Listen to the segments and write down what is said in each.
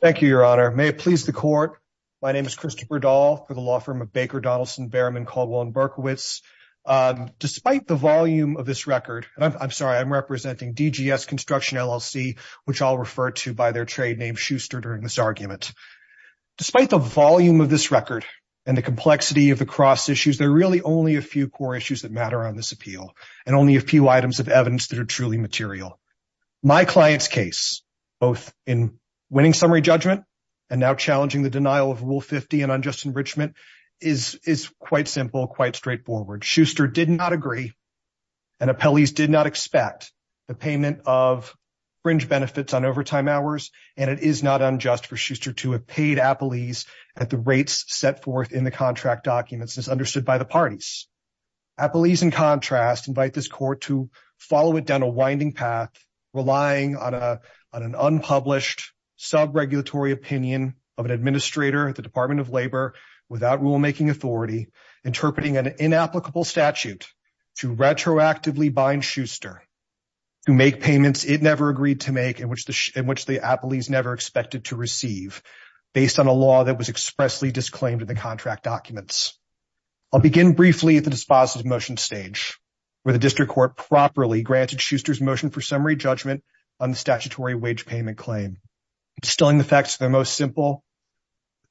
Thank you, Your Honor. May it please the court, my name is Christopher Dahl for the law firm of Baker, Donaldson, Behrman, Caldwell, and Berkowitz. Despite the volume of this record, I'm sorry, I'm representing DGS Construction, LLC, which I'll refer to by their trade name Schuster during this argument. Despite the volume of this record and the complexity of the cross issues, there are really only a few core issues that matter on this appeal and only a few items of evidence that are truly material. My client's case, both in winning summary judgment and now challenging the denial of Rule 50 and unjust enrichment, is quite simple, quite straightforward. Schuster did not agree and appellees did not expect the payment of fringe benefits on overtime hours and it is not unjust for Schuster to have paid appellees at the rates set forth in the contract documents as understood by the parties. Appellees, in contrast, invite this court to follow it down a winding path, relying on an unpublished sub-regulatory opinion of an administrator at the Department of Labor without rulemaking authority, interpreting an inapplicable statute to retroactively bind Schuster to make payments it never agreed to make and which the appellees never expected to receive based on a law that was expressly disclaimed in the contract documents. I'll begin briefly at the dispositive motion stage where the district court properly granted Schuster's motion for summary judgment on the statutory wage payment claim. Distilling the facts to their most simple,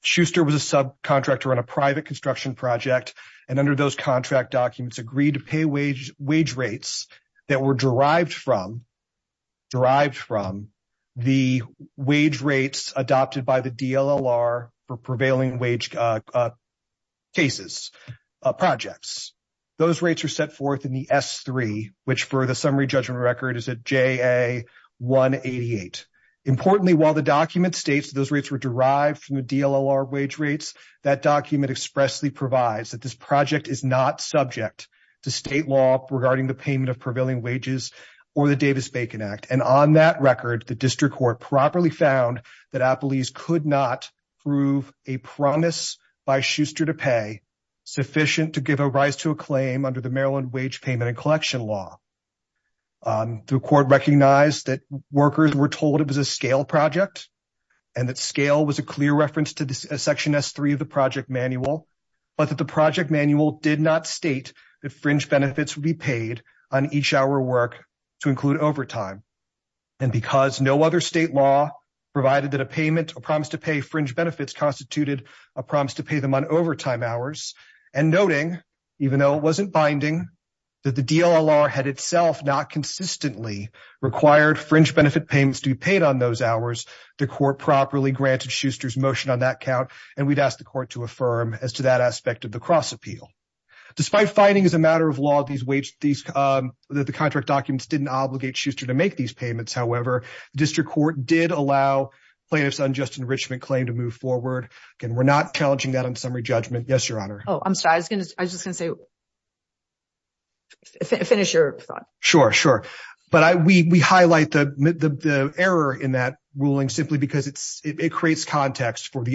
Schuster was a subcontractor on a private construction project and under those contract documents agreed to pay wage rates that were derived from the wage rates adopted by the DLLR for prevailing wage cases projects. Those rates are set forth in the S-3, which for the summary judgment record is a JA-188. Importantly, while the document states those rates were derived from the DLLR wage rates, that document expressly provides that this project is not subject to state law regarding the payment of prevailing wages or the Davis-Bacon Act and on that record the district court properly found that appellees could not prove a promise by Schuster to pay sufficient to give a rise to a claim under the Maryland wage payment and collection law. The court recognized that workers were told it was a scale project and that scale was a clear reference to the section S-3 of the project manual, but that the project manual did not state that fringe benefits would be paid on each hour work to include overtime and because no other state law provided that a payment or promise to pay fringe benefits constituted a promise to pay them on overtime hours and noting even though it wasn't binding that the DLLR had itself not consistently required fringe benefit payments to be paid on those hours, the court properly granted Schuster's motion on that count and we'd ask the court to affirm as to that aspect of the cross appeal. Despite finding as a matter of law that the contract documents didn't obligate Schuster to make these payments, however, the district court did allow plaintiffs unjust enrichment claim to move forward. Again, we're not challenging that on summary judgment. Yes, your honor. Oh, I'm sorry. I was just going to say finish your thought. Sure, sure. But we highlight the error in that ruling simply because it creates context for the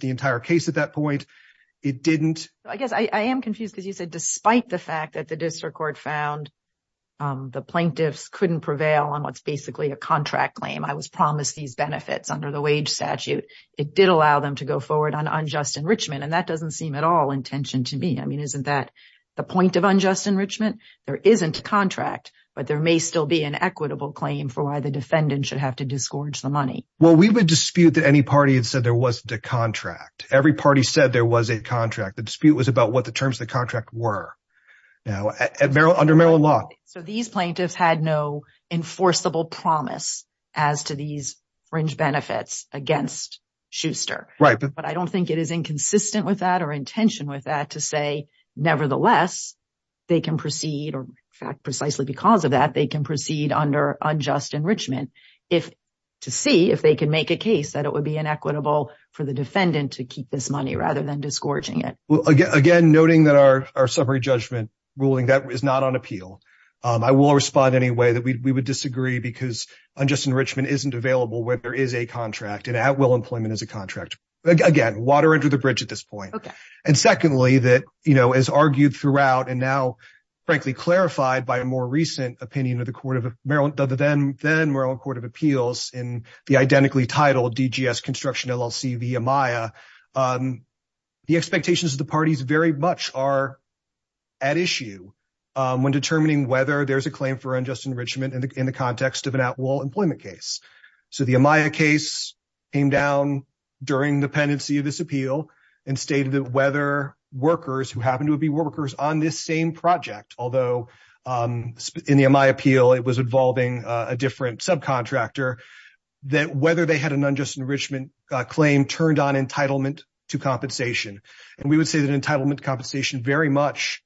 the entire case at that point. It didn't. I guess I am confused because you said despite the fact that the district court found the plaintiffs couldn't prevail on what's basically a contract claim. I was promised these benefits under the wage statute. It did allow them to go forward on unjust enrichment and that doesn't seem at all intention to me. I mean, isn't that the point of unjust enrichment? There isn't a contract, but there may still be an equitable claim for why the defendant should have to disgorge the money. Well, we would dispute that any party there wasn't a contract. Every party said there was a contract. The dispute was about what the terms of the contract were. Now, under Maryland law. So these plaintiffs had no enforceable promise as to these fringe benefits against Schuster. Right. But I don't think it is inconsistent with that or intention with that to say nevertheless they can proceed or in fact precisely because of that they can proceed under unjust enrichment if to see if they can make a for the defendant to keep this money rather than disgorging it. Well, again, noting that our summary judgment ruling that is not on appeal. I will respond any way that we would disagree because unjust enrichment isn't available where there is a contract and at will employment is a contract. Again, water under the bridge at this point. And secondly, that, you know, as argued throughout and now frankly clarified by a more recent opinion of the court of Maryland, the then Court of Appeals in the identically titled DGS construction LLC via Maya, the expectations of the parties very much are at issue when determining whether there's a claim for unjust enrichment in the context of an at will employment case. So the Amaya case came down during the pendency of this appeal and stated that whether workers who happen to be workers on this same project, although in the Amaya appeal, it was involving a different subcontractor that whether they had an unjust enrichment claim turned on entitlement to compensation. And we would say that entitlement compensation very much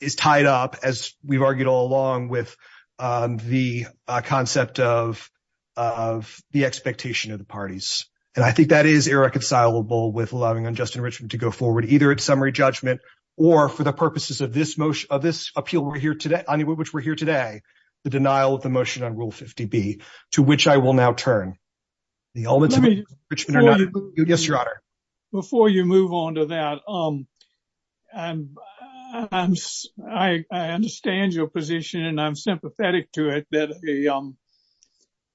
is tied up as we've argued all along with the concept of the expectation of the parties. And I think that is irreconcilable with allowing unjust enrichment to go forward, either at summary judgment, or for the purposes of this motion of this appeal, we're here today, I mean, which we're here today, the denial of the motion on Rule 50 B, to which I will now turn. The elements of enrichment are not. Yes, Your Honor. Before you move on to that, I understand your position, and I'm sympathetic to it that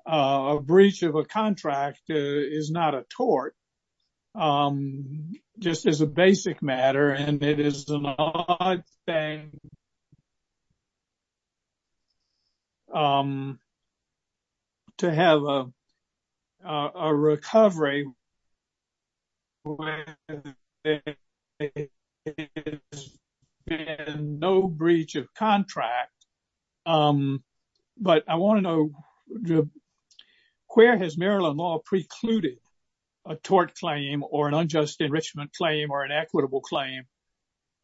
a breach of a contract is not a tort, just as a basic matter, and it is an odd thing to have a recovery where there has been no breach of contract. But I want to know, where has Maryland law precluded a tort claim or an unjust enrichment claim or an equitable claim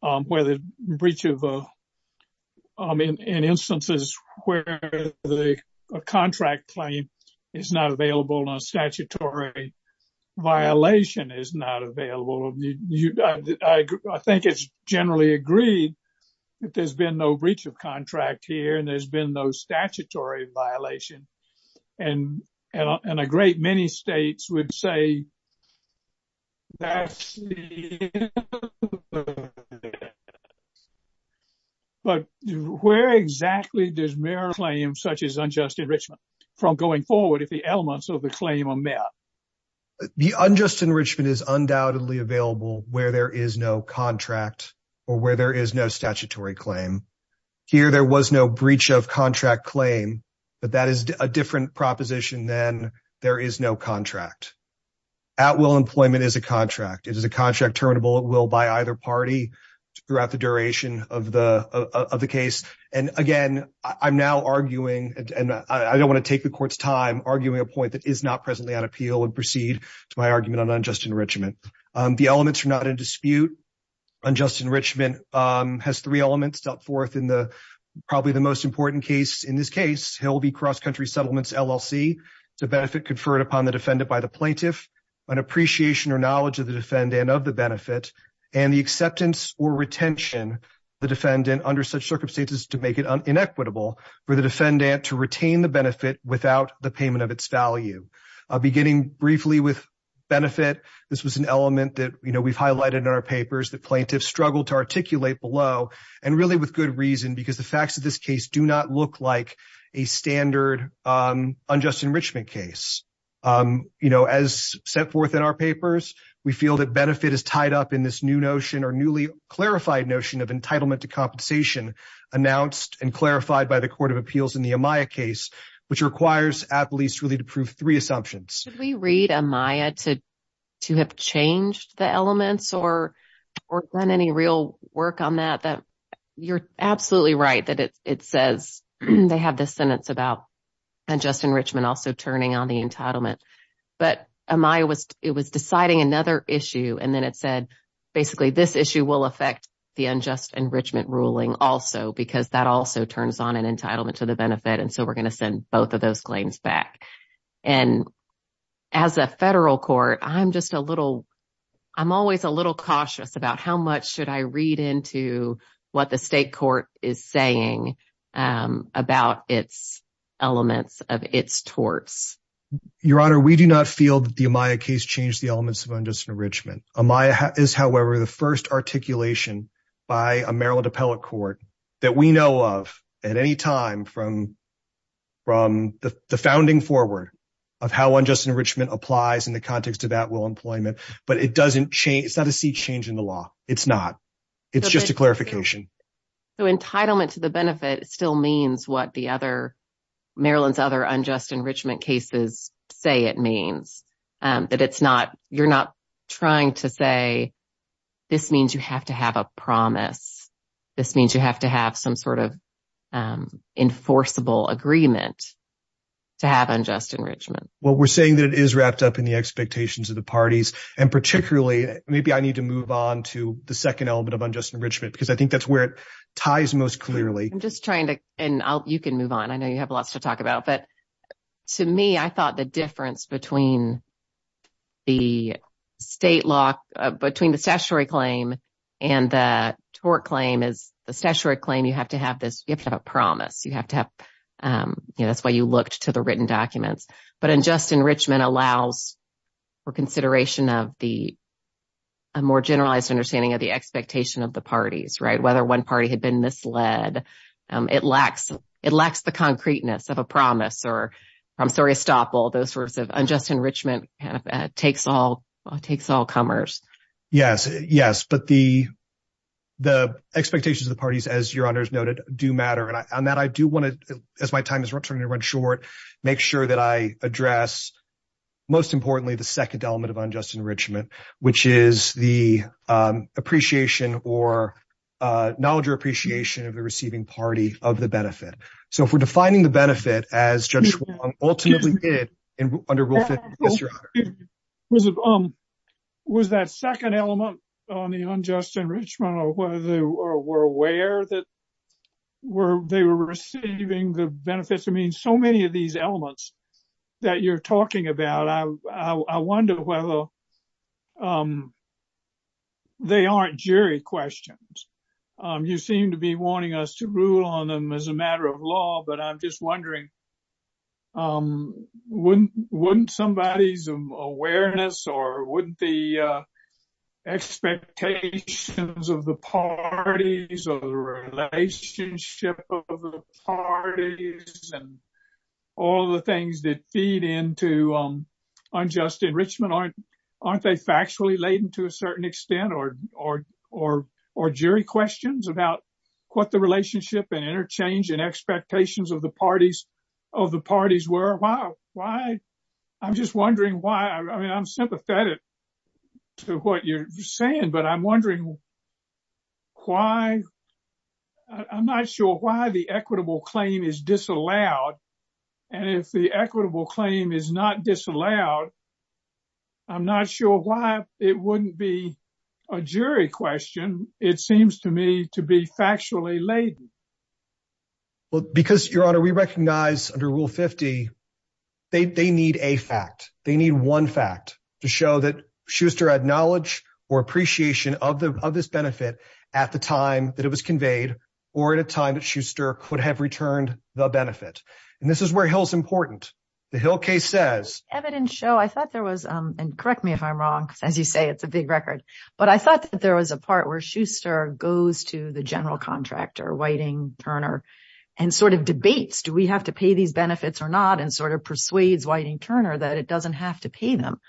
where the breach of, in instances where the contract claim is not available and a statutory violation is not available? I think it's generally agreed that there's been no breach of contract here, and there's been no statutory violation. And a great many states would say, but where exactly does Maryland claim such as unjust enrichment from going forward if the elements of the claim are met? The unjust enrichment is undoubtedly available where is no contract or where there is no statutory claim. Here, there was no breach of contract claim, but that is a different proposition than there is no contract. At will employment is a contract. It is a contract terminable at will by either party throughout the duration of the case. And again, I'm now arguing, and I don't want to take the Court's time, arguing a point that is not unjust enrichment has three elements dealt forth in probably the most important case. In this case, he'll be cross-country settlements LLC to benefit conferred upon the defendant by the plaintiff, an appreciation or knowledge of the defendant of the benefit and the acceptance or retention the defendant under such circumstances to make it inequitable for the defendant to retain the benefit without the payment of its value. Beginning briefly with benefit, this was an element that we've highlighted in our papers that plaintiffs struggled to articulate below and really with good reason because the facts of this case do not look like a standard unjust enrichment case. You know, as set forth in our papers, we feel that benefit is tied up in this new notion or newly clarified notion of entitlement to compensation announced and clarified by the Court of Appeals in the Amaya case, which requires at least really to prove three assumptions. Should we read Amaya to have changed the elements or done any real work on that? You're absolutely right that it says they have this sentence about unjust enrichment also turning on the entitlement, but Amaya was deciding another issue and then it said basically this issue will affect the unjust enrichment ruling also because that also turns on an entitlement to the benefit and so we're going to send both of those claims back. And as a federal court, I'm just a little, I'm always a little cautious about how much should I read into what the state court is saying about its elements of its torts. Your Honor, we do not feel that the Amaya case changed the elements of unjust enrichment. Amaya is, however, the first articulation by a Maryland appellate that we know of at any time from the founding forward of how unjust enrichment applies in the context of at-will employment, but it doesn't change, it's not a seed change in the law. It's not. It's just a clarification. So entitlement to the benefit still means what the other, Maryland's other unjust enrichment cases say it means, that it's not, you're not trying to say this means you have to have a promise, this means you have to have some sort of enforceable agreement to have unjust enrichment. Well, we're saying that it is wrapped up in the expectations of the parties and particularly maybe I need to move on to the second element of unjust enrichment because I think that's where it ties most clearly. I'm just trying to, and you can move on, I know you have lots to talk about, but to me I thought the difference between the state law, between the statutory claim and the tort claim is the statutory claim you have to have this, you have to have a promise, you have to have, you know, that's why you looked to the written documents, but unjust enrichment allows for consideration of the more generalized understanding of the expectation of the parties, right, whether one party had been misled, it lacks, it lacks the concreteness of a promise or, I'm sorry, estoppel, those sorts of unjust enrichment takes all comers. Yes, yes, but the expectations of the parties, as your honors noted, do matter and that I do want to, as my time is running short, make sure that I address most importantly the second element of unjust enrichment, which is the appreciation or knowledge or appreciation of the receiving party of the benefit. So if we're defining the benefit as Judge Schwong ultimately did under Rule 50, yes, your honor. Was that second element on the unjust enrichment or whether they were aware that they were receiving the benefits? I mean, so many of these elements that you're talking about, I wonder whether they aren't jury questions. You seem to be wanting us to rule on them as a matter of law, but I'm just wondering, wouldn't somebody's awareness or wouldn't the expectations of the parties or the relationship of the parties and all the things that feed into unjust enrichment, aren't they factually laden to a certain extent or jury questions about what the relationship and interchange and expectations of the parties were? Why? I'm just wondering why. I mean, I'm sympathetic to what you're saying, but I'm wondering why. I'm not sure why the equitable claim is disallowed and if the equitable claim is not laden. Well, because your honor, we recognize under Rule 50, they need a fact. They need one fact to show that Schuster had knowledge or appreciation of this benefit at the time that it was conveyed or at a time that Schuster could have returned the benefit. And this is where Hill is important. The Hill case says, evidence show, I thought there was, and correct me if I'm wrong, because as you say, it's a big record, but I thought that there was a part where Schuster goes to the general contractor, Whiting-Turner, and sort of debates, do we have to pay these benefits or not? And sort of persuades Whiting-Turner that it doesn't have to pay them.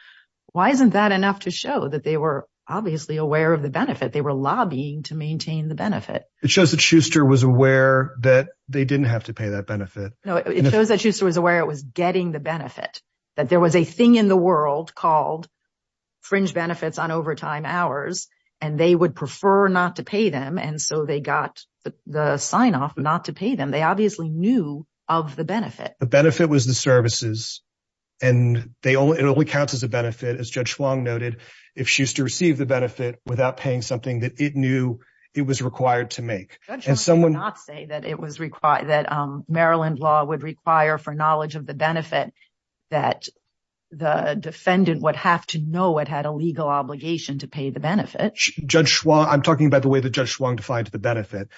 Why isn't that enough to show that they were obviously aware of the benefit? They were lobbying to maintain the benefit. It shows that Schuster was aware that they didn't have to pay that benefit. No, it shows that Schuster was aware it was getting the benefit, that there was a thing in the world called fringe benefits on overtime hours, and they would prefer not to pay them, and so they got the sign-off not to pay them. They obviously knew of the benefit. The benefit was the services, and it only counts as a benefit, as Judge Huang noted, if Schuster received the benefit without paying something that it knew it was required to make. Judge Huang did not say that Maryland law would require for knowledge of the benefit that the defendant would have to know it had a legal obligation to pay the benefit. Judge Huang, I'm talking about the way that Judge Huang defined the benefit.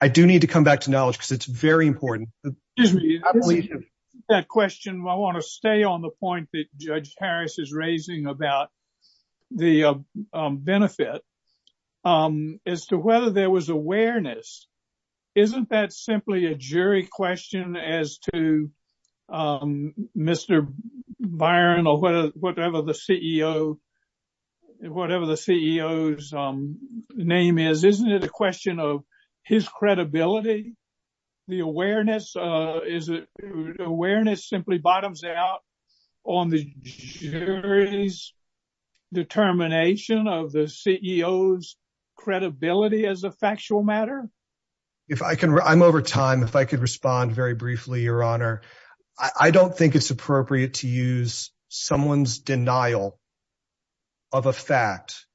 I do need to come back to knowledge because it's very important. That question, I want to stay on the point that Judge Harris is raising about the benefit, as to whether there was awareness. Isn't that simply a jury question as to Mr. Byron or whatever the CEO's name is? Isn't it a question of his credibility? The awareness simply bottoms out on the jury's determination of the CEO's credibility as a factual matter? I'm over time. If I could respond very briefly, Your Honor. I don't think it's appropriate to use someone's denial of a fact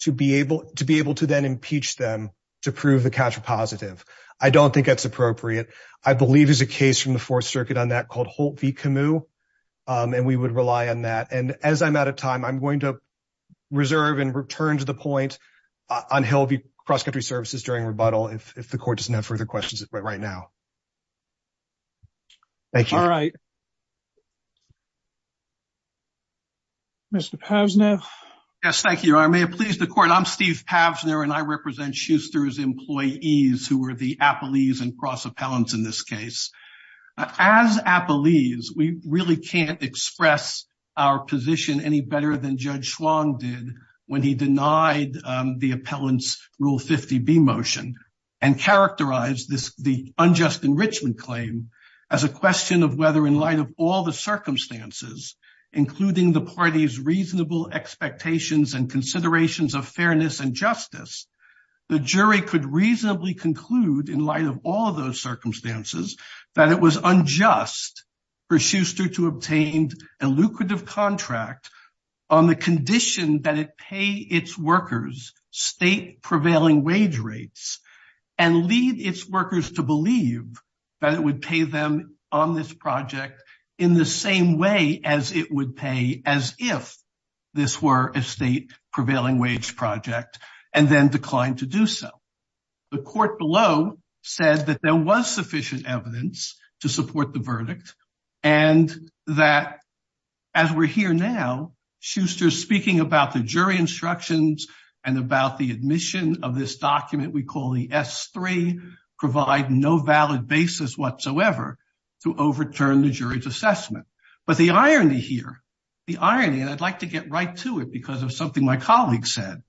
to be able to then impeach them to prove the catcher positive. I don't think that's appropriate. I believe there's a case from the Fourth Circuit on that called Holt v. Camus, and we would rely on that. As I'm out of time, I'm going to reserve and return to the point on Hill v. Cross Country Services during this time. Thank you. All right. Mr. Pavsner? Yes, thank you, Your Honor. May it please the court, I'm Steve Pavsner, and I represent Schuster's employees who were the appellees and cross appellants in this case. As appellees, we really can't express our position any better than Judge Schwann did when he denied the appellant's Rule 50B motion and characterized the unjust enrichment claim as a question of whether, in light of all the circumstances, including the party's reasonable expectations and considerations of fairness and justice, the jury could reasonably conclude, in light of all of those circumstances, that it was unjust for Schuster to obtain a lucrative contract on the condition that it pay its workers state prevailing wage rates and lead its workers to believe that it would pay them on this project in the same way as it would pay as if this were a state prevailing wage project, and then declined to do so. The court below said that there was sufficient evidence to support the verdict and that, as we're here now, Schuster's speaking about the jury instructions and about the admission of this document we call the S-3 provide no valid basis whatsoever to overturn the jury's assessment. But the irony here, the irony, and I'd like to get right to it because of something my colleague said,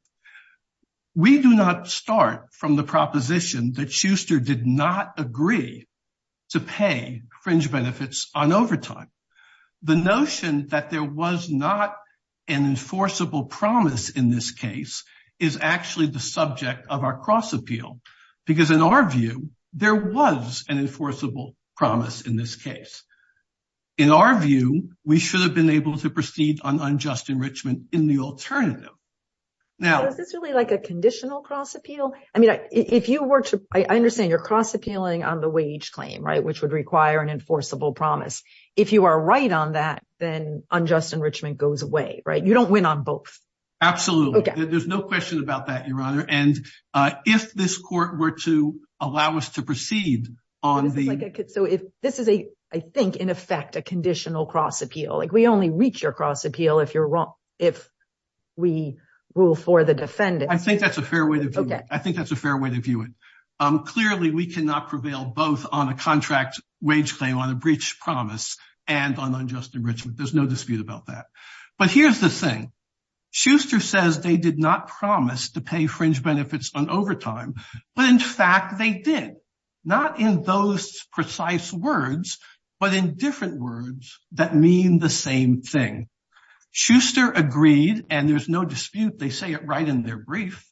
we do not start from the proposition that Schuster did not agree to pay fringe benefits on overtime. The notion that there was not an enforceable promise in this case is actually the subject of our cross-appeal because, in our view, there was an enforceable promise in this case. In our view, we should have been able to proceed on unjust enrichment in the alternative. Now, is this really like a conditional cross-appeal? I mean, if you were to, I understand you're cross-appealing on the wage claim, right, which would require an enforceable promise. If you are right on that, then unjust enrichment goes away, right? You don't win on both. Absolutely. There's no question about that, Your Honor, and if this court were to allow us to proceed on the, so if this is a, I think, in effect a conditional cross-appeal, like we only reach your cross-appeal if you're wrong, if we rule for the defendant. I think that's a fair way to view it. I think that's a fair way to view it. Clearly, we cannot prevail both on a contract wage claim, on a breach promise, and on unjust enrichment. There's no dispute about that. But here's the thing. Schuster says they did not promise to pay fringe benefits on overtime, but in fact they did. Not in precise words, but in different words that mean the same thing. Schuster agreed, and there's no dispute, they say it right in their brief,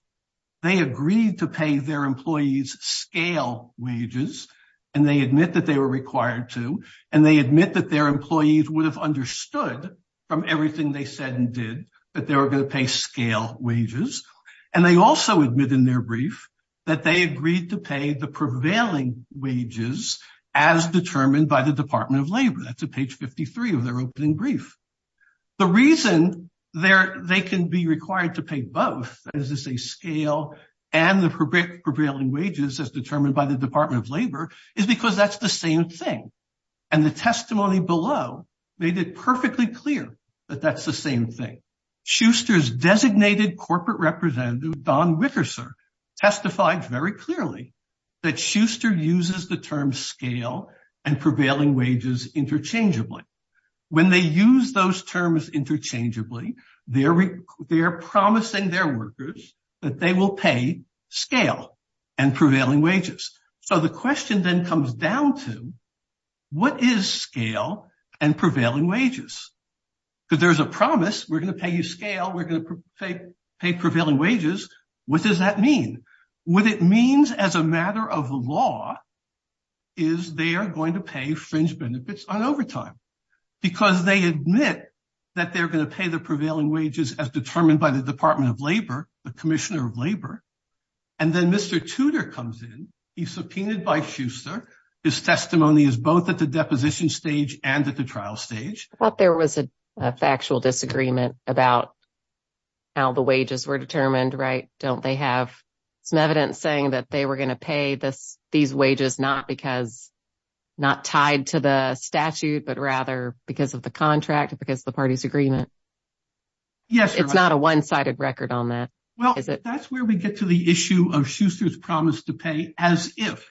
they agreed to pay their employees scale wages, and they admit that they were required to, and they admit that their employees would have understood from everything they said and did that they were going to pay scale wages, and they also admit in their that they agreed to pay the prevailing wages as determined by the Department of Labor. That's at page 53 of their opening brief. The reason they can be required to pay both, that is to say scale and the prevailing wages as determined by the Department of Labor, is because that's the same thing. And the testimony below made it perfectly clear that that's the same thing. Schuster's testified very clearly that Schuster uses the term scale and prevailing wages interchangeably. When they use those terms interchangeably, they are promising their workers that they will pay scale and prevailing wages. So the question then comes down to what is scale and prevailing wages? Because there's a promise, we're going to pay you scale, we're going to pay prevailing wages, what does that mean? What it means as a matter of law is they are going to pay fringe benefits on overtime, because they admit that they're going to pay the prevailing wages as determined by the Department of Labor, the Commissioner of Labor. And then Mr. Tudor comes in, he's subpoenaed by Schuster, his testimony is both at the deposition stage and at the trial stage. I thought there was a factual disagreement about how the wages were determined, right? Don't they have some evidence saying that they were going to pay these wages not because, not tied to the statute, but rather because of the contract, because the party's agreement? Yes. It's not a one-sided record on that. Well, that's where we get to the issue of Schuster's as if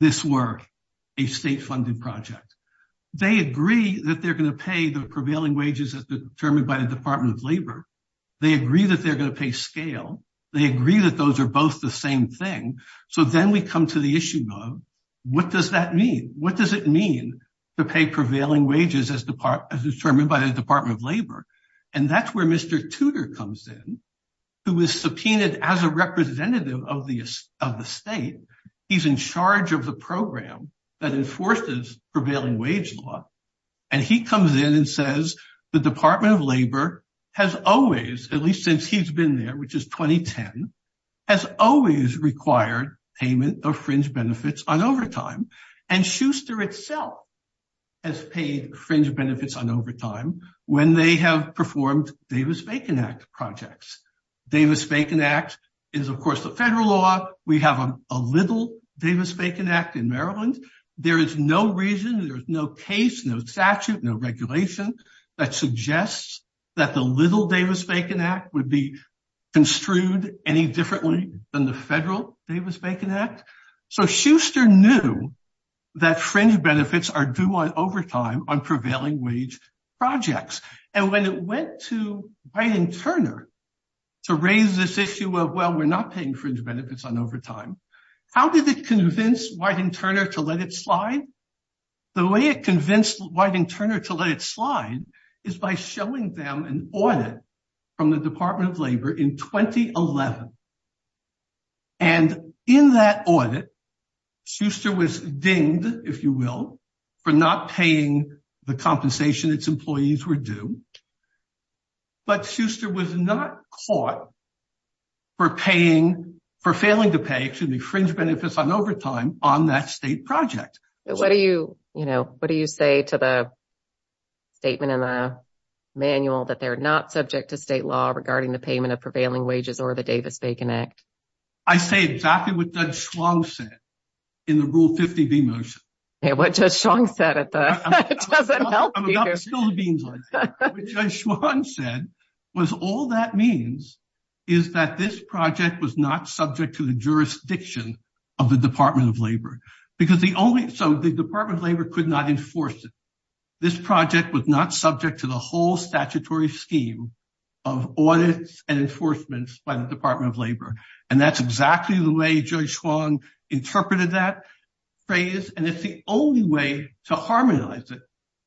this were a state-funded project. They agree that they're going to pay the prevailing wages as determined by the Department of Labor. They agree that they're going to pay scale. They agree that those are both the same thing. So then we come to the issue of what does that mean? What does it mean to pay prevailing wages as determined by the Department of Labor? And that's where Mr. Tudor comes in, who was subpoenaed as a representative of the state. He's in charge of the program that enforces prevailing wage law. And he comes in and says, the Department of Labor has always, at least since he's been there, which is 2010, has always required payment of fringe benefits on overtime. And Schuster itself has paid fringe benefits on overtime when they have performed Davis-Bacon Act projects. Davis-Bacon Act is, of course, the federal law. We have a little Davis-Bacon Act in Maryland. There is no reason, there's no case, no statute, no regulation that suggests that the little Davis-Bacon Act would be construed any differently than the federal Davis-Bacon Act. So Schuster knew that fringe wage projects. And when it went to Wyden Turner to raise this issue of, well, we're not paying fringe benefits on overtime, how did it convince Wyden Turner to let it slide? The way it convinced Wyden Turner to let it slide is by showing them an audit from the Department of Labor in 2011. And in that audit, Schuster was dinged, if you will, for not paying the compensation its employees were due. But Schuster was not caught for paying, for failing to pay, excuse me, fringe benefits on overtime on that state project. What do you, you know, what do you say to the statement in the manual that they're not subject to state law regarding the payment of prevailing wages or Davis-Bacon Act? I say exactly what Judge Schwann said in the Rule 50B motion. Yeah, what Judge Schwann said at the, it doesn't help you. I'm about to spill the beans on you. What Judge Schwann said was, all that means is that this project was not subject to the jurisdiction of the Department of Labor. Because the only, so the Department of Labor could not enforce it. This project was not subject to the whole statutory scheme of audits and enforcements by the Department of Labor. And that's exactly the way Judge Schwann interpreted that phrase. And it's the only way to harmonize it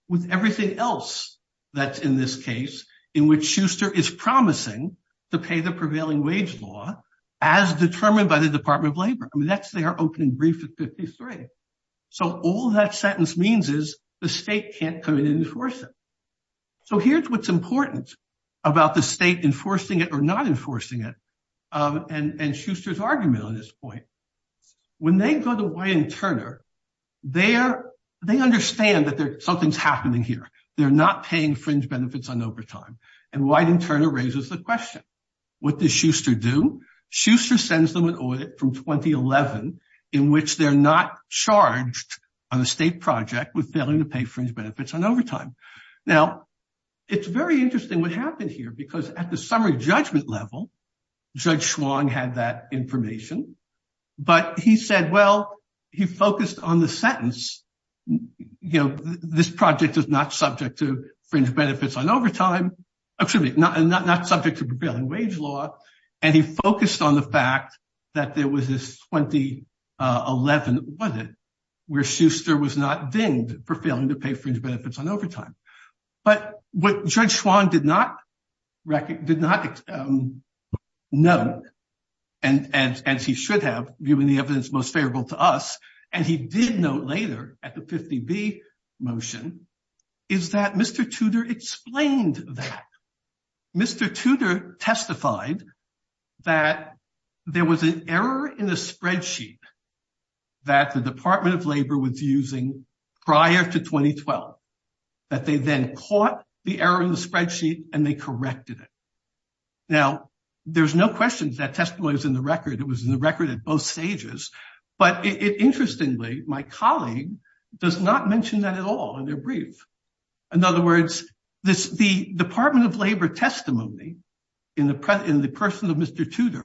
with everything else that's in this case, in which Schuster is promising to pay the prevailing wage law as determined by the Department of Labor. I mean, that's their opening brief at 53. So all that sentence means is the state can't come in and enforce it. So here's what's important about the state enforcing it or not enforcing it, and Schuster's argument on this point. When they go to Wyden-Turner, they understand that something's happening here. They're not paying fringe benefits on overtime. And Wyden-Turner raises the question, what does Schuster do? Schuster sends them an audit from 2011 in which they're not charged on a state project with failing to pay fringe benefits on overtime. Now, it's very interesting what happened here because at the summary judgment level, Judge Schwann had that information. But he said, well, he focused on the sentence, you know, this project is not subject to fringe benefits on overtime, excuse me, not subject to 2011, was it, where Schuster was not dinged for failing to pay fringe benefits on overtime. But what Judge Schwann did not know, and he should have, given the evidence most favorable to us, and he did note later at the 50B motion, is that Mr. Tudor explained that. Mr. Tudor testified that there was an error in the spreadsheet that the Department of Labor was using prior to 2012, that they then caught the error in the spreadsheet and they corrected it. Now, there's no question that testimony is in the record. It was in the record at both stages. But interestingly, my colleague does not mention that at all in their brief. In other words, the Department of Labor testimony in the person of Mr. Tudor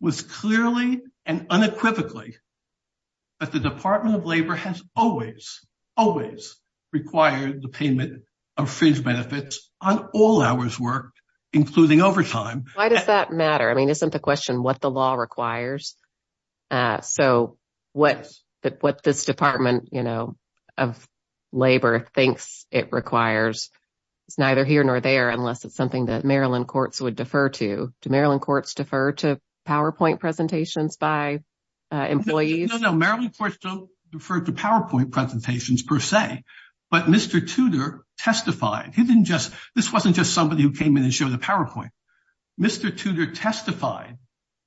was clearly and unequivocally that the Department of Labor has always, always required the payment of fringe benefits on all hours worked, including overtime. Why does that matter? I mean, isn't the question what the law requires? It's neither here nor there, unless it's something that Maryland courts would defer to. Do Maryland courts defer to PowerPoint presentations by employees? No, no. Maryland courts don't defer to PowerPoint presentations per se. But Mr. Tudor testified. He didn't just, this wasn't just somebody who came in and showed the PowerPoint. Mr. Tudor testified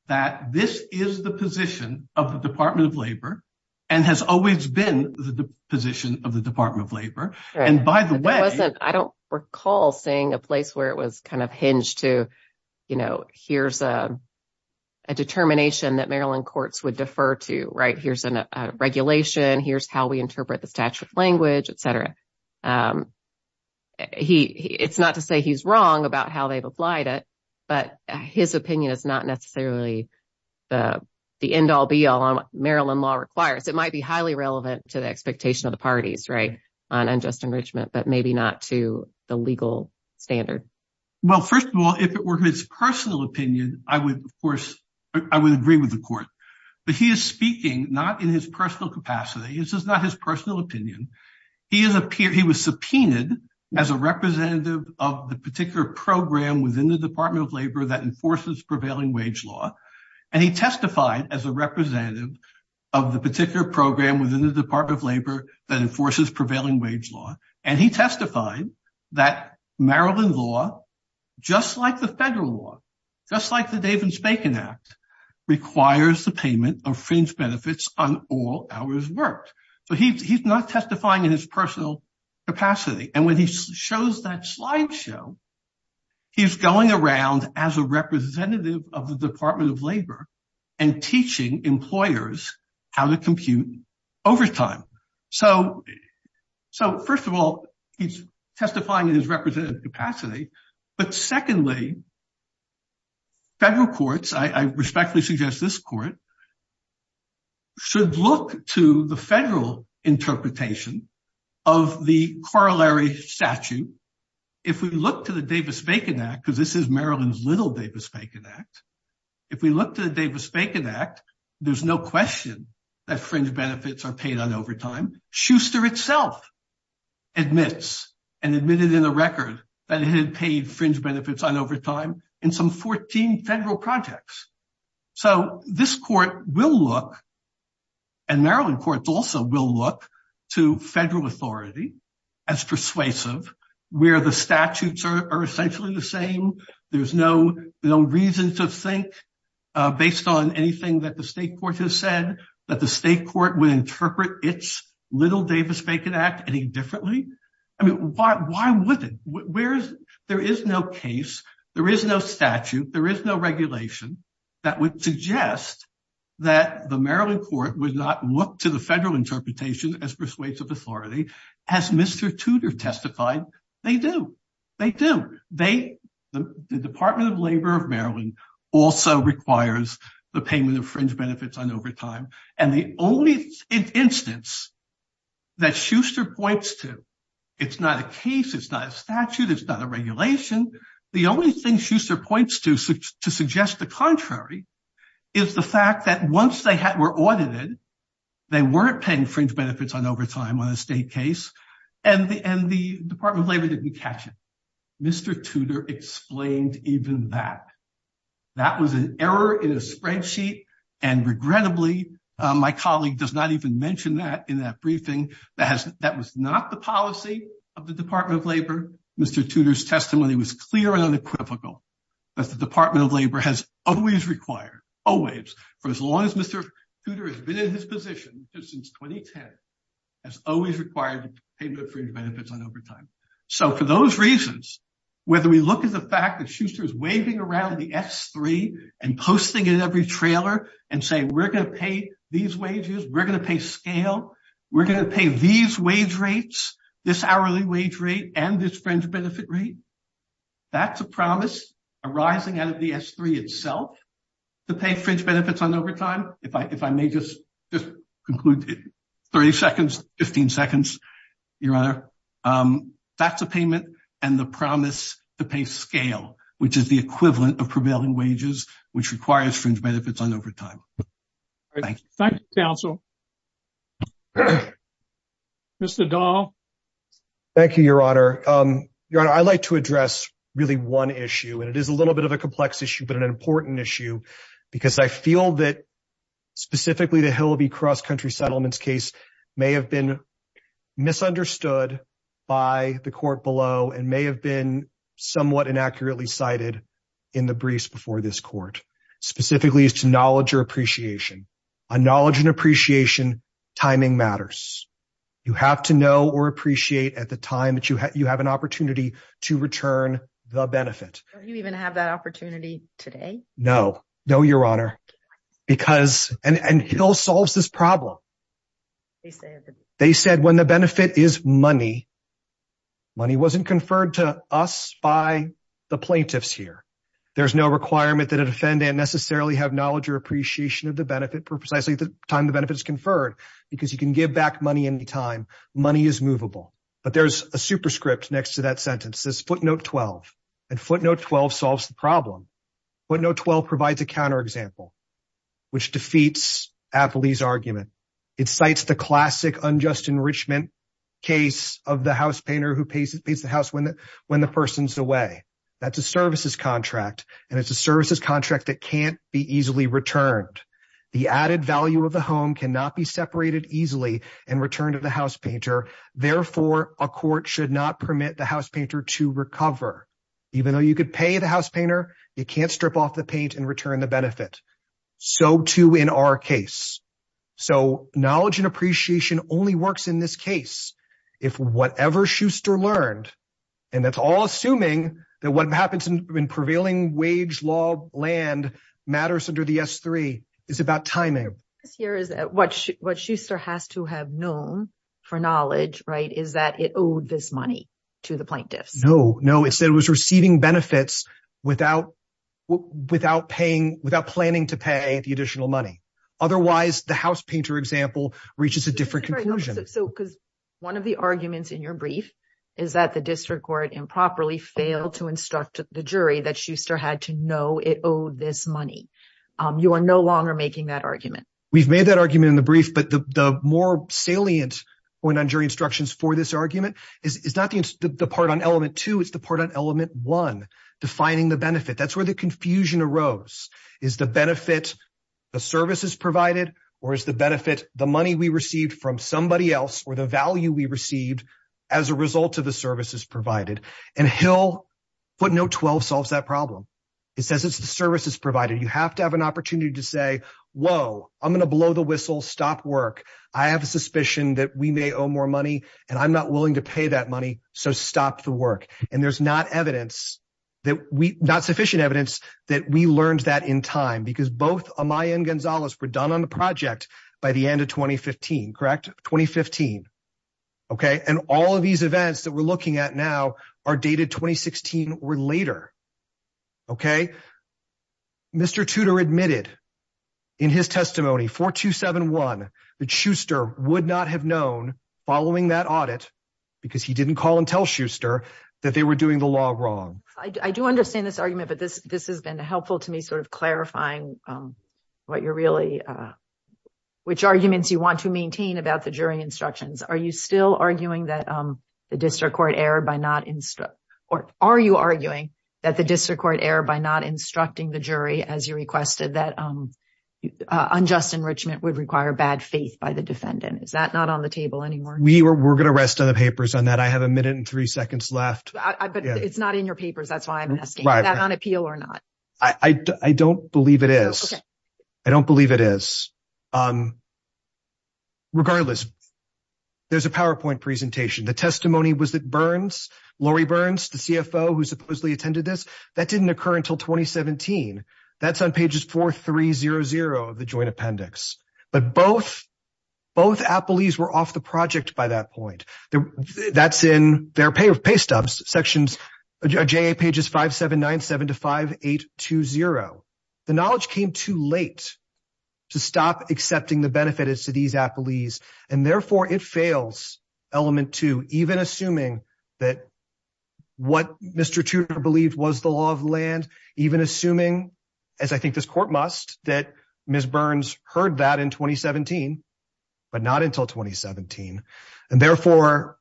that this is the position of the Department of Labor and has always been the position of the Department of Labor. I don't recall seeing a place where it was kind of hinged to, you know, here's a determination that Maryland courts would defer to, right? Here's a regulation. Here's how we interpret the statute of language, etc. It's not to say he's wrong about how they've applied it, but his opinion is not necessarily the end-all be-all on what Maryland law requires. It might be highly relevant to the expectation of the parties, right, on unjust enrichment, but maybe not to the legal standard. Well, first of all, if it were his personal opinion, I would, of course, I would agree with the court. But he is speaking not in his personal capacity. This is not his personal opinion. He was subpoenaed as a representative of the particular program within the Department of Labor that enforces prevailing wage law. And he testified as a representative of the particular program within the Department of Labor that enforces prevailing wage law. And he testified that Maryland law, just like the federal law, just like the Davids-Bacon Act, requires the payment of fringe benefits on all hours worked. So he's not testifying in his personal capacity. And when he shows that slideshow, he's going around as a representative of the Department of Labor and teaching employers how to compute overtime. So first of all, he's testifying in his representative capacity. But secondly, federal courts, I respectfully suggest this court, should look to the federal interpretation of the corollary statute. If we look to the Davis-Bacon Act, because this is Maryland's Davis-Bacon Act, if we look to the Davis-Bacon Act, there's no question that fringe benefits are paid on overtime. Schuster itself admits and admitted in the record that he had paid fringe benefits on overtime in some 14 federal projects. So this court will look, and Maryland courts also will look, to federal authority as persuasive, where the statutes are essentially the same. There's no reason to think, based on anything that the state court has said, that the state court would interpret its little Davis-Bacon Act any differently. I mean, why wouldn't? There is no case, there is no statute, there is no regulation that would suggest that the Maryland court would not look to the federal interpretation as persuasive authority. As Mr. Tudor testified, they do. They do. The Department of Labor of Maryland also requires the payment of fringe benefits on overtime. And the only instance that Schuster points to, it's not a case, it's not a statute, it's not a regulation, the only thing Schuster points to to suggest the contrary is the fact that once they were audited, they weren't paying fringe benefits on overtime on a state case, and the Department of Labor didn't catch it. Mr. Tudor explained even that. That was an error in a spreadsheet, and regrettably, my colleague does not even mention that in that briefing. That was not the policy of the Department of Labor. Mr. Tudor's testimony was clear and unequivocal, that the Department of Labor has always required, always, for as long as Mr. Tudor has been in his position, since 2010, has always required the payment of fringe benefits on overtime. So for those reasons, whether we look at the fact that Schuster is waving around the S3 and posting it in every trailer and saying, we're going to pay these wages, we're going to pay scale, we're going to pay these wage rates, this hourly wage rate, and this fringe benefit rate, that's a promise arising out of the S3 itself to pay fringe benefits on overtime. If I may just conclude, 30 seconds, 15 seconds, Your Honor. That's a payment and the promise to pay scale, which is the equivalent of prevailing wages, which requires fringe benefits on overtime. Thank you. Thank you, counsel. Mr. Dahl. Thank you, Your Honor. Your Honor, I'd like to address really one issue, and it is a little bit of a complex issue, but an important issue, because I feel that, specifically, the Hillaby Cross-Country Settlements case may have been misunderstood by the court below and may have been somewhat inaccurately cited in the briefs before this court, specifically as to knowledge or appreciation. On knowledge and appreciation, timing matters. You have to know or appreciate at the time that you have an opportunity to return the benefit. Don't you even have that opportunity today? No. No, Your Honor. And Hill solves this problem. They said when the benefit is money, money wasn't conferred to us by the plaintiffs here. There's no requirement that a defendant necessarily have knowledge or appreciation of the benefit precisely at the time the benefit is conferred, because you can give back money any time. Money is movable. But there's a superscript next to that sentence that says, footnote 12. And footnote 12 solves the problem. Footnote 12 provides a counterexample, which defeats Apley's argument. It cites the classic unjust enrichment case of the house painter who pays the house when the person's away. That's a services contract, and it's a services contract that can't be easily returned. The added value of the home cannot be separated easily and returned to the house painter. Therefore, a court should not permit the house painter to recover. Even though you could pay the house painter, you can't strip off the paint and return the benefit. So too in our case. So knowledge and appreciation only works in this case. If whatever Schuster learned, and that's all assuming that what happens in prevailing wage land matters under the S3, is about timing. What Schuster has to have known for knowledge, right, is that it owed this money to the plaintiffs. No, no. It said it was receiving benefits without planning to pay the additional money. Otherwise, the house painter example reaches a different conclusion. So because one of the arguments in your brief is that the district improperly failed to instruct the jury that Schuster had to know it owed this money, you are no longer making that argument. We've made that argument in the brief, but the more salient point on jury instructions for this argument is not the part on element two, it's the part on element one, defining the benefit. That's where the confusion arose. Is the benefit the services provided, or is the benefit the money we received from somebody else, or the value we received as a result of the services provided? And Hill footnote 12 solves that problem. It says it's the services provided. You have to have an opportunity to say, whoa, I'm going to blow the whistle, stop work. I have a suspicion that we may owe more money, and I'm not willing to pay that money, so stop the work. And there's not sufficient evidence that we learned that in time, because both Amaya and Gonzalez were done on the project by the end of 2015, correct? 2015. Okay? And all of these events that we're looking at now are dated 2016 or later. Okay? Mr. Tudor admitted in his testimony, 4271, that Schuster would not have known following that audit, because he didn't call and tell Schuster that they were doing the law wrong. I do understand this argument, but this has been helpful to me clarifying which arguments you want to maintain about the jury instructions. Are you still arguing that the district court error by not instructing the jury as you requested that unjust enrichment would require bad faith by the defendant? Is that not on the table anymore? We're going to rest on the papers on that. I have a minute and three seconds left. But it's not in your papers. That's why I'm asking. Is that on appeal or not? I don't believe it is. I don't believe it is. Regardless, there's a PowerPoint presentation. The testimony was that Burns, Lori Burns, the CFO who supposedly attended this, that didn't occur until 2017. That's on pages 4300 of the joint appendix. But both appellees were off the project by that point. That's in their pay stubs sections, JA pages 5797 to 5820. The knowledge came too late to stop accepting the benefits to these appellees, and therefore it fails element two, even assuming that what Mr. Tudor believed was the law of land, even assuming, as I think this court must, that Ms. Burns heard that in 2017, but not until 2017. And therefore,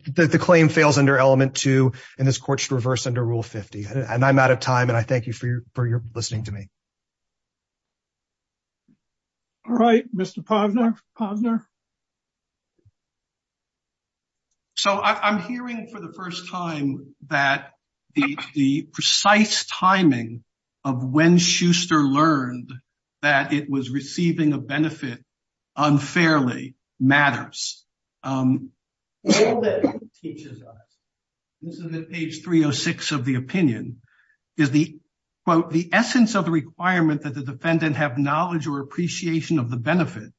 the claim fails under element two, and this court should reverse under rule 50. And I'm out of time, and I thank you for your listening to me. All right, Mr. Posner. So I'm hearing for the first time that the precise timing of when Schuster learned that it was receiving a benefit unfairly matters. This is at page 306 of the opinion, is the, quote, the essence of the requirement that the defendant have knowledge or appreciation of the benefit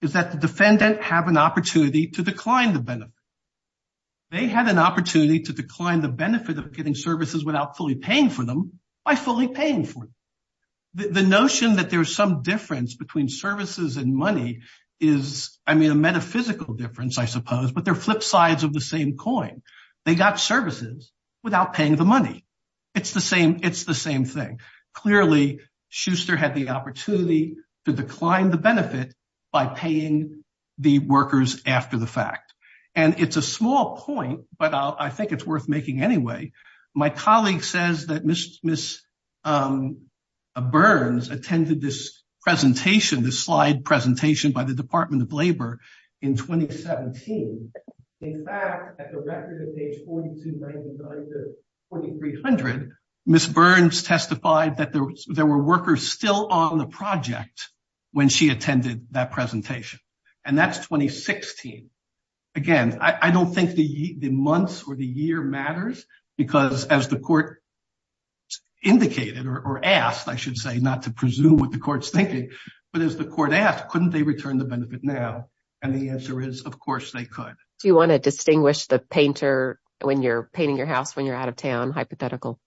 is that the defendant have an opportunity to decline the benefit. They had an opportunity to decline the benefit of getting services without fully paying the money. The assumption that there's some difference between services and money is, I mean, a metaphysical difference, I suppose, but they're flip sides of the same coin. They got services without paying the money. It's the same, it's the same thing. Clearly, Schuster had the opportunity to decline the benefit by paying the workers after the fact. And it's a small point, but I think it's worth making anyway. My colleague says that Ms. Burns attended this presentation, this slide presentation by the Department of Labor in 2017. In fact, at the record of page 4299 to 4300, Ms. Burns testified that there were workers still on the project when she attended that presentation. And that's 2016. Again, I don't think the months or the year matters because as the court indicated, or asked, I should say, not to presume what the court's thinking, but as the court asked, couldn't they return the benefit now? And the answer is, of course, they could. Do you want to distinguish the painter when you're painting your house when you're out of town, hypothetical?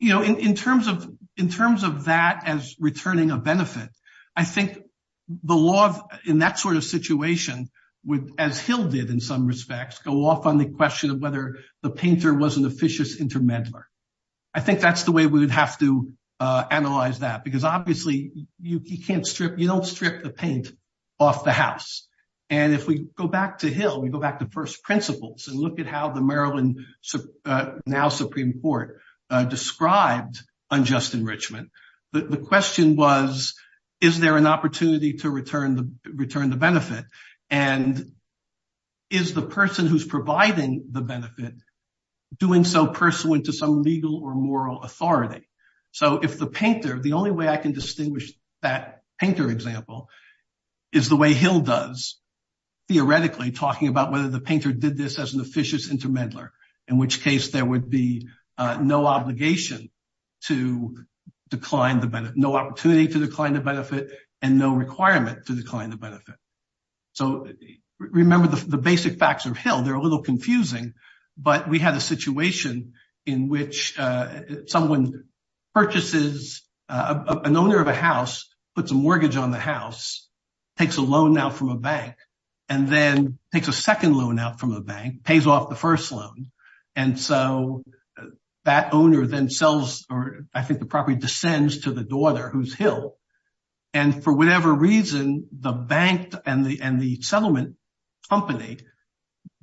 You know, in terms of that as returning a benefit, I think the law in that sort of situation would, as Hill did in some respects, go off on the question of whether the painter was an officious intermeddler. I think that's the way we would have to analyze that because obviously, you don't strip the paint off the house. And if we go back to Hill, we go back to first principles and look at how the Maryland now Supreme Court described unjust enrichment, the question was, is there an opportunity to return the benefit? And is the person who's providing the benefit doing so pursuant to some legal or moral authority? So if the painter, the only way I can distinguish that painter example is the way Hill does, theoretically talking about whether the painter did this as an officious intermeddler, in which case there would be no obligation to decline the benefit, no opportunity to decline the benefit and no requirement to decline the benefit. So remember the basic facts of Hill, they're a little confusing, but we had a situation in which someone purchases, an owner of a house, puts a mortgage on the house, takes a loan out from a bank, and then takes a second loan out from a bank, pays off the first loan. And so that owner then sells, or I think the property descends to the daughter who's Hill. And for whatever reason, the bank and the settlement company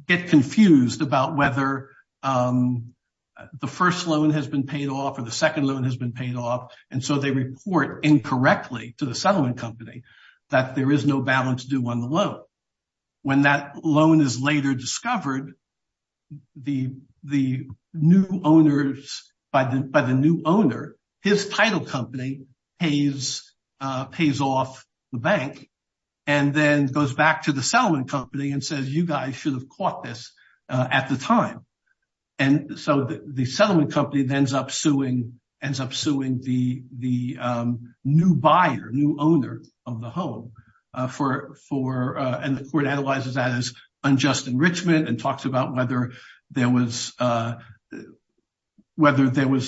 get confused about whether the first loan has been paid off or the second loan has been paid off. And so they report incorrectly to the settlement company that there is no balance due on the loan. When that loan is later discovered, the new owners, by the new owner, his title company pays off the bank and then goes back to the settlement company and says, you guys should have caught this at the time. And so the settlement company ends up suing the new buyer, new owner of the home. And the court analyzes that as unjust enrichment and talks about whether there was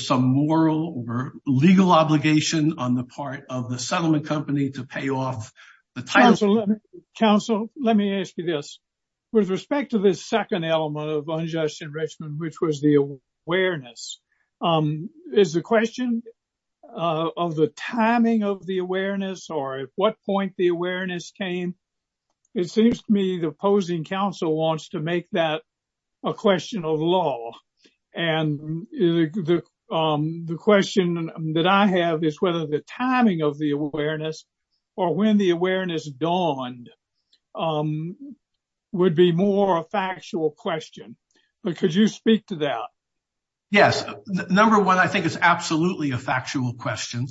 some moral or legal obligation on the part of the settlement company to pay off the title. Counsel, let me ask you this. With respect to this second element of unjust enrichment, which was the awareness, is the question of the timing of the awareness or at what point the awareness came? It seems to me the opposing counsel wants to make that a question of law. And the question that I have is whether the timing of the awareness or when the awareness dawned would be more a factual question. But could you speak to that? Yes. Number one, I think it's absolutely a factual question.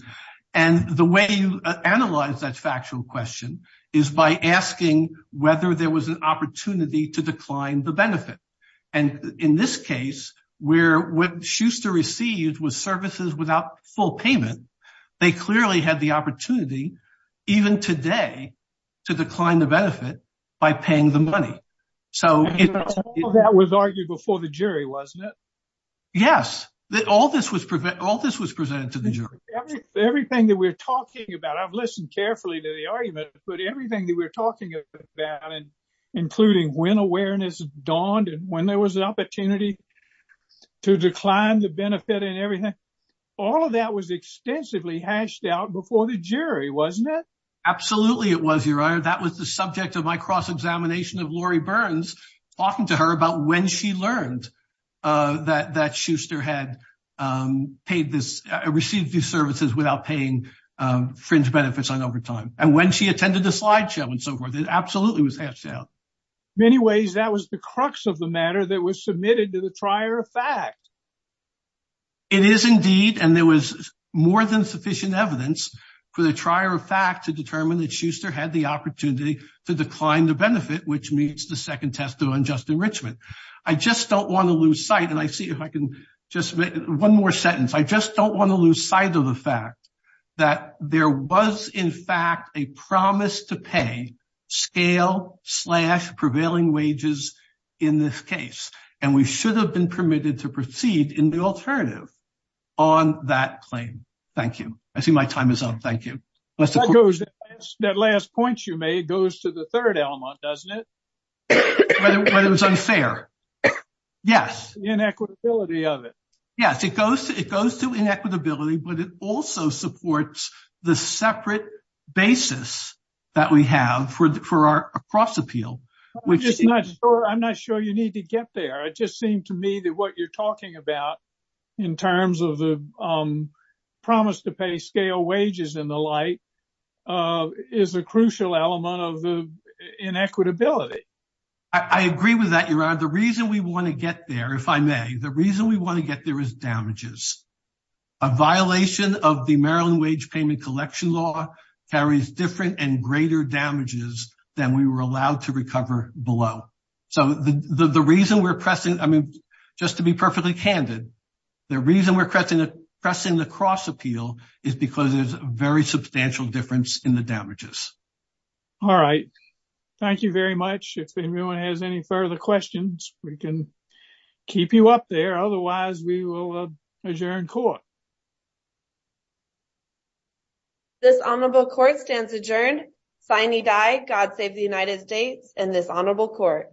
And the way you analyze that factual question is by asking whether there was an opportunity to decline the benefit. And in this case, where what Schuster received was services without full payment, they clearly had the opportunity, even today, to decline the benefit by paying the money. That was argued before the jury, wasn't it? Yes. All this was presented to the jury. Everything that we're talking about, I've listened carefully to the argument, but everything that we're talking about, including when awareness dawned and when there was an opportunity to decline the benefit and everything, all of that was extensively hashed out before the jury, wasn't it? Absolutely it was, Your Honor. That was the subject of my cross-examination of Lori Burns talking to her about when she learned that Schuster had received these services without paying fringe benefits on overtime. And when she attended the slideshow and so forth, it absolutely was hashed out. In many ways, that was the crux of the matter that was submitted to the trier of fact. It is indeed. And there was more than sufficient evidence for the trier of fact to determine that Schuster had the opportunity to decline the benefit, which means the second test of unjust enrichment. I just don't want to lose sight. And I see if I can just make one more sentence. I just don't want to lose sight of the fact that there was, in fact, a promise to pay scale slash prevailing wages in this case. And we should have been permitted to proceed in the alternative on that claim. Thank you. I see my time is up. Thank you. That last point you made goes to the third element, doesn't it? Whether it was unfair. Yes. Inequitability of it. Yes, it goes to inequitability, but it also supports the separate basis that we have for our cross appeal, which is not sure. I'm not sure you need to get there. It just seemed to me that what you're talking about in terms of the promise to pay scale wages in the light is a crucial element of the inequitability. I agree with that. You are the reason we want to get there, if I may. The reason we want to get there is damages. A violation of the Maryland wage payment collection law carries different and greater damages than we were allowed to recover below. So the reason we're pressing, I mean, just to be perfectly candid, the reason we're pressing the cross appeal is because there's a very substantial difference in the damages. All right. Thank you very much. If anyone has any further questions, we can keep you up there. Otherwise, we will adjourn court. This honorable court stands adjourned. Signe Dye, God save the United States, and this honorable court.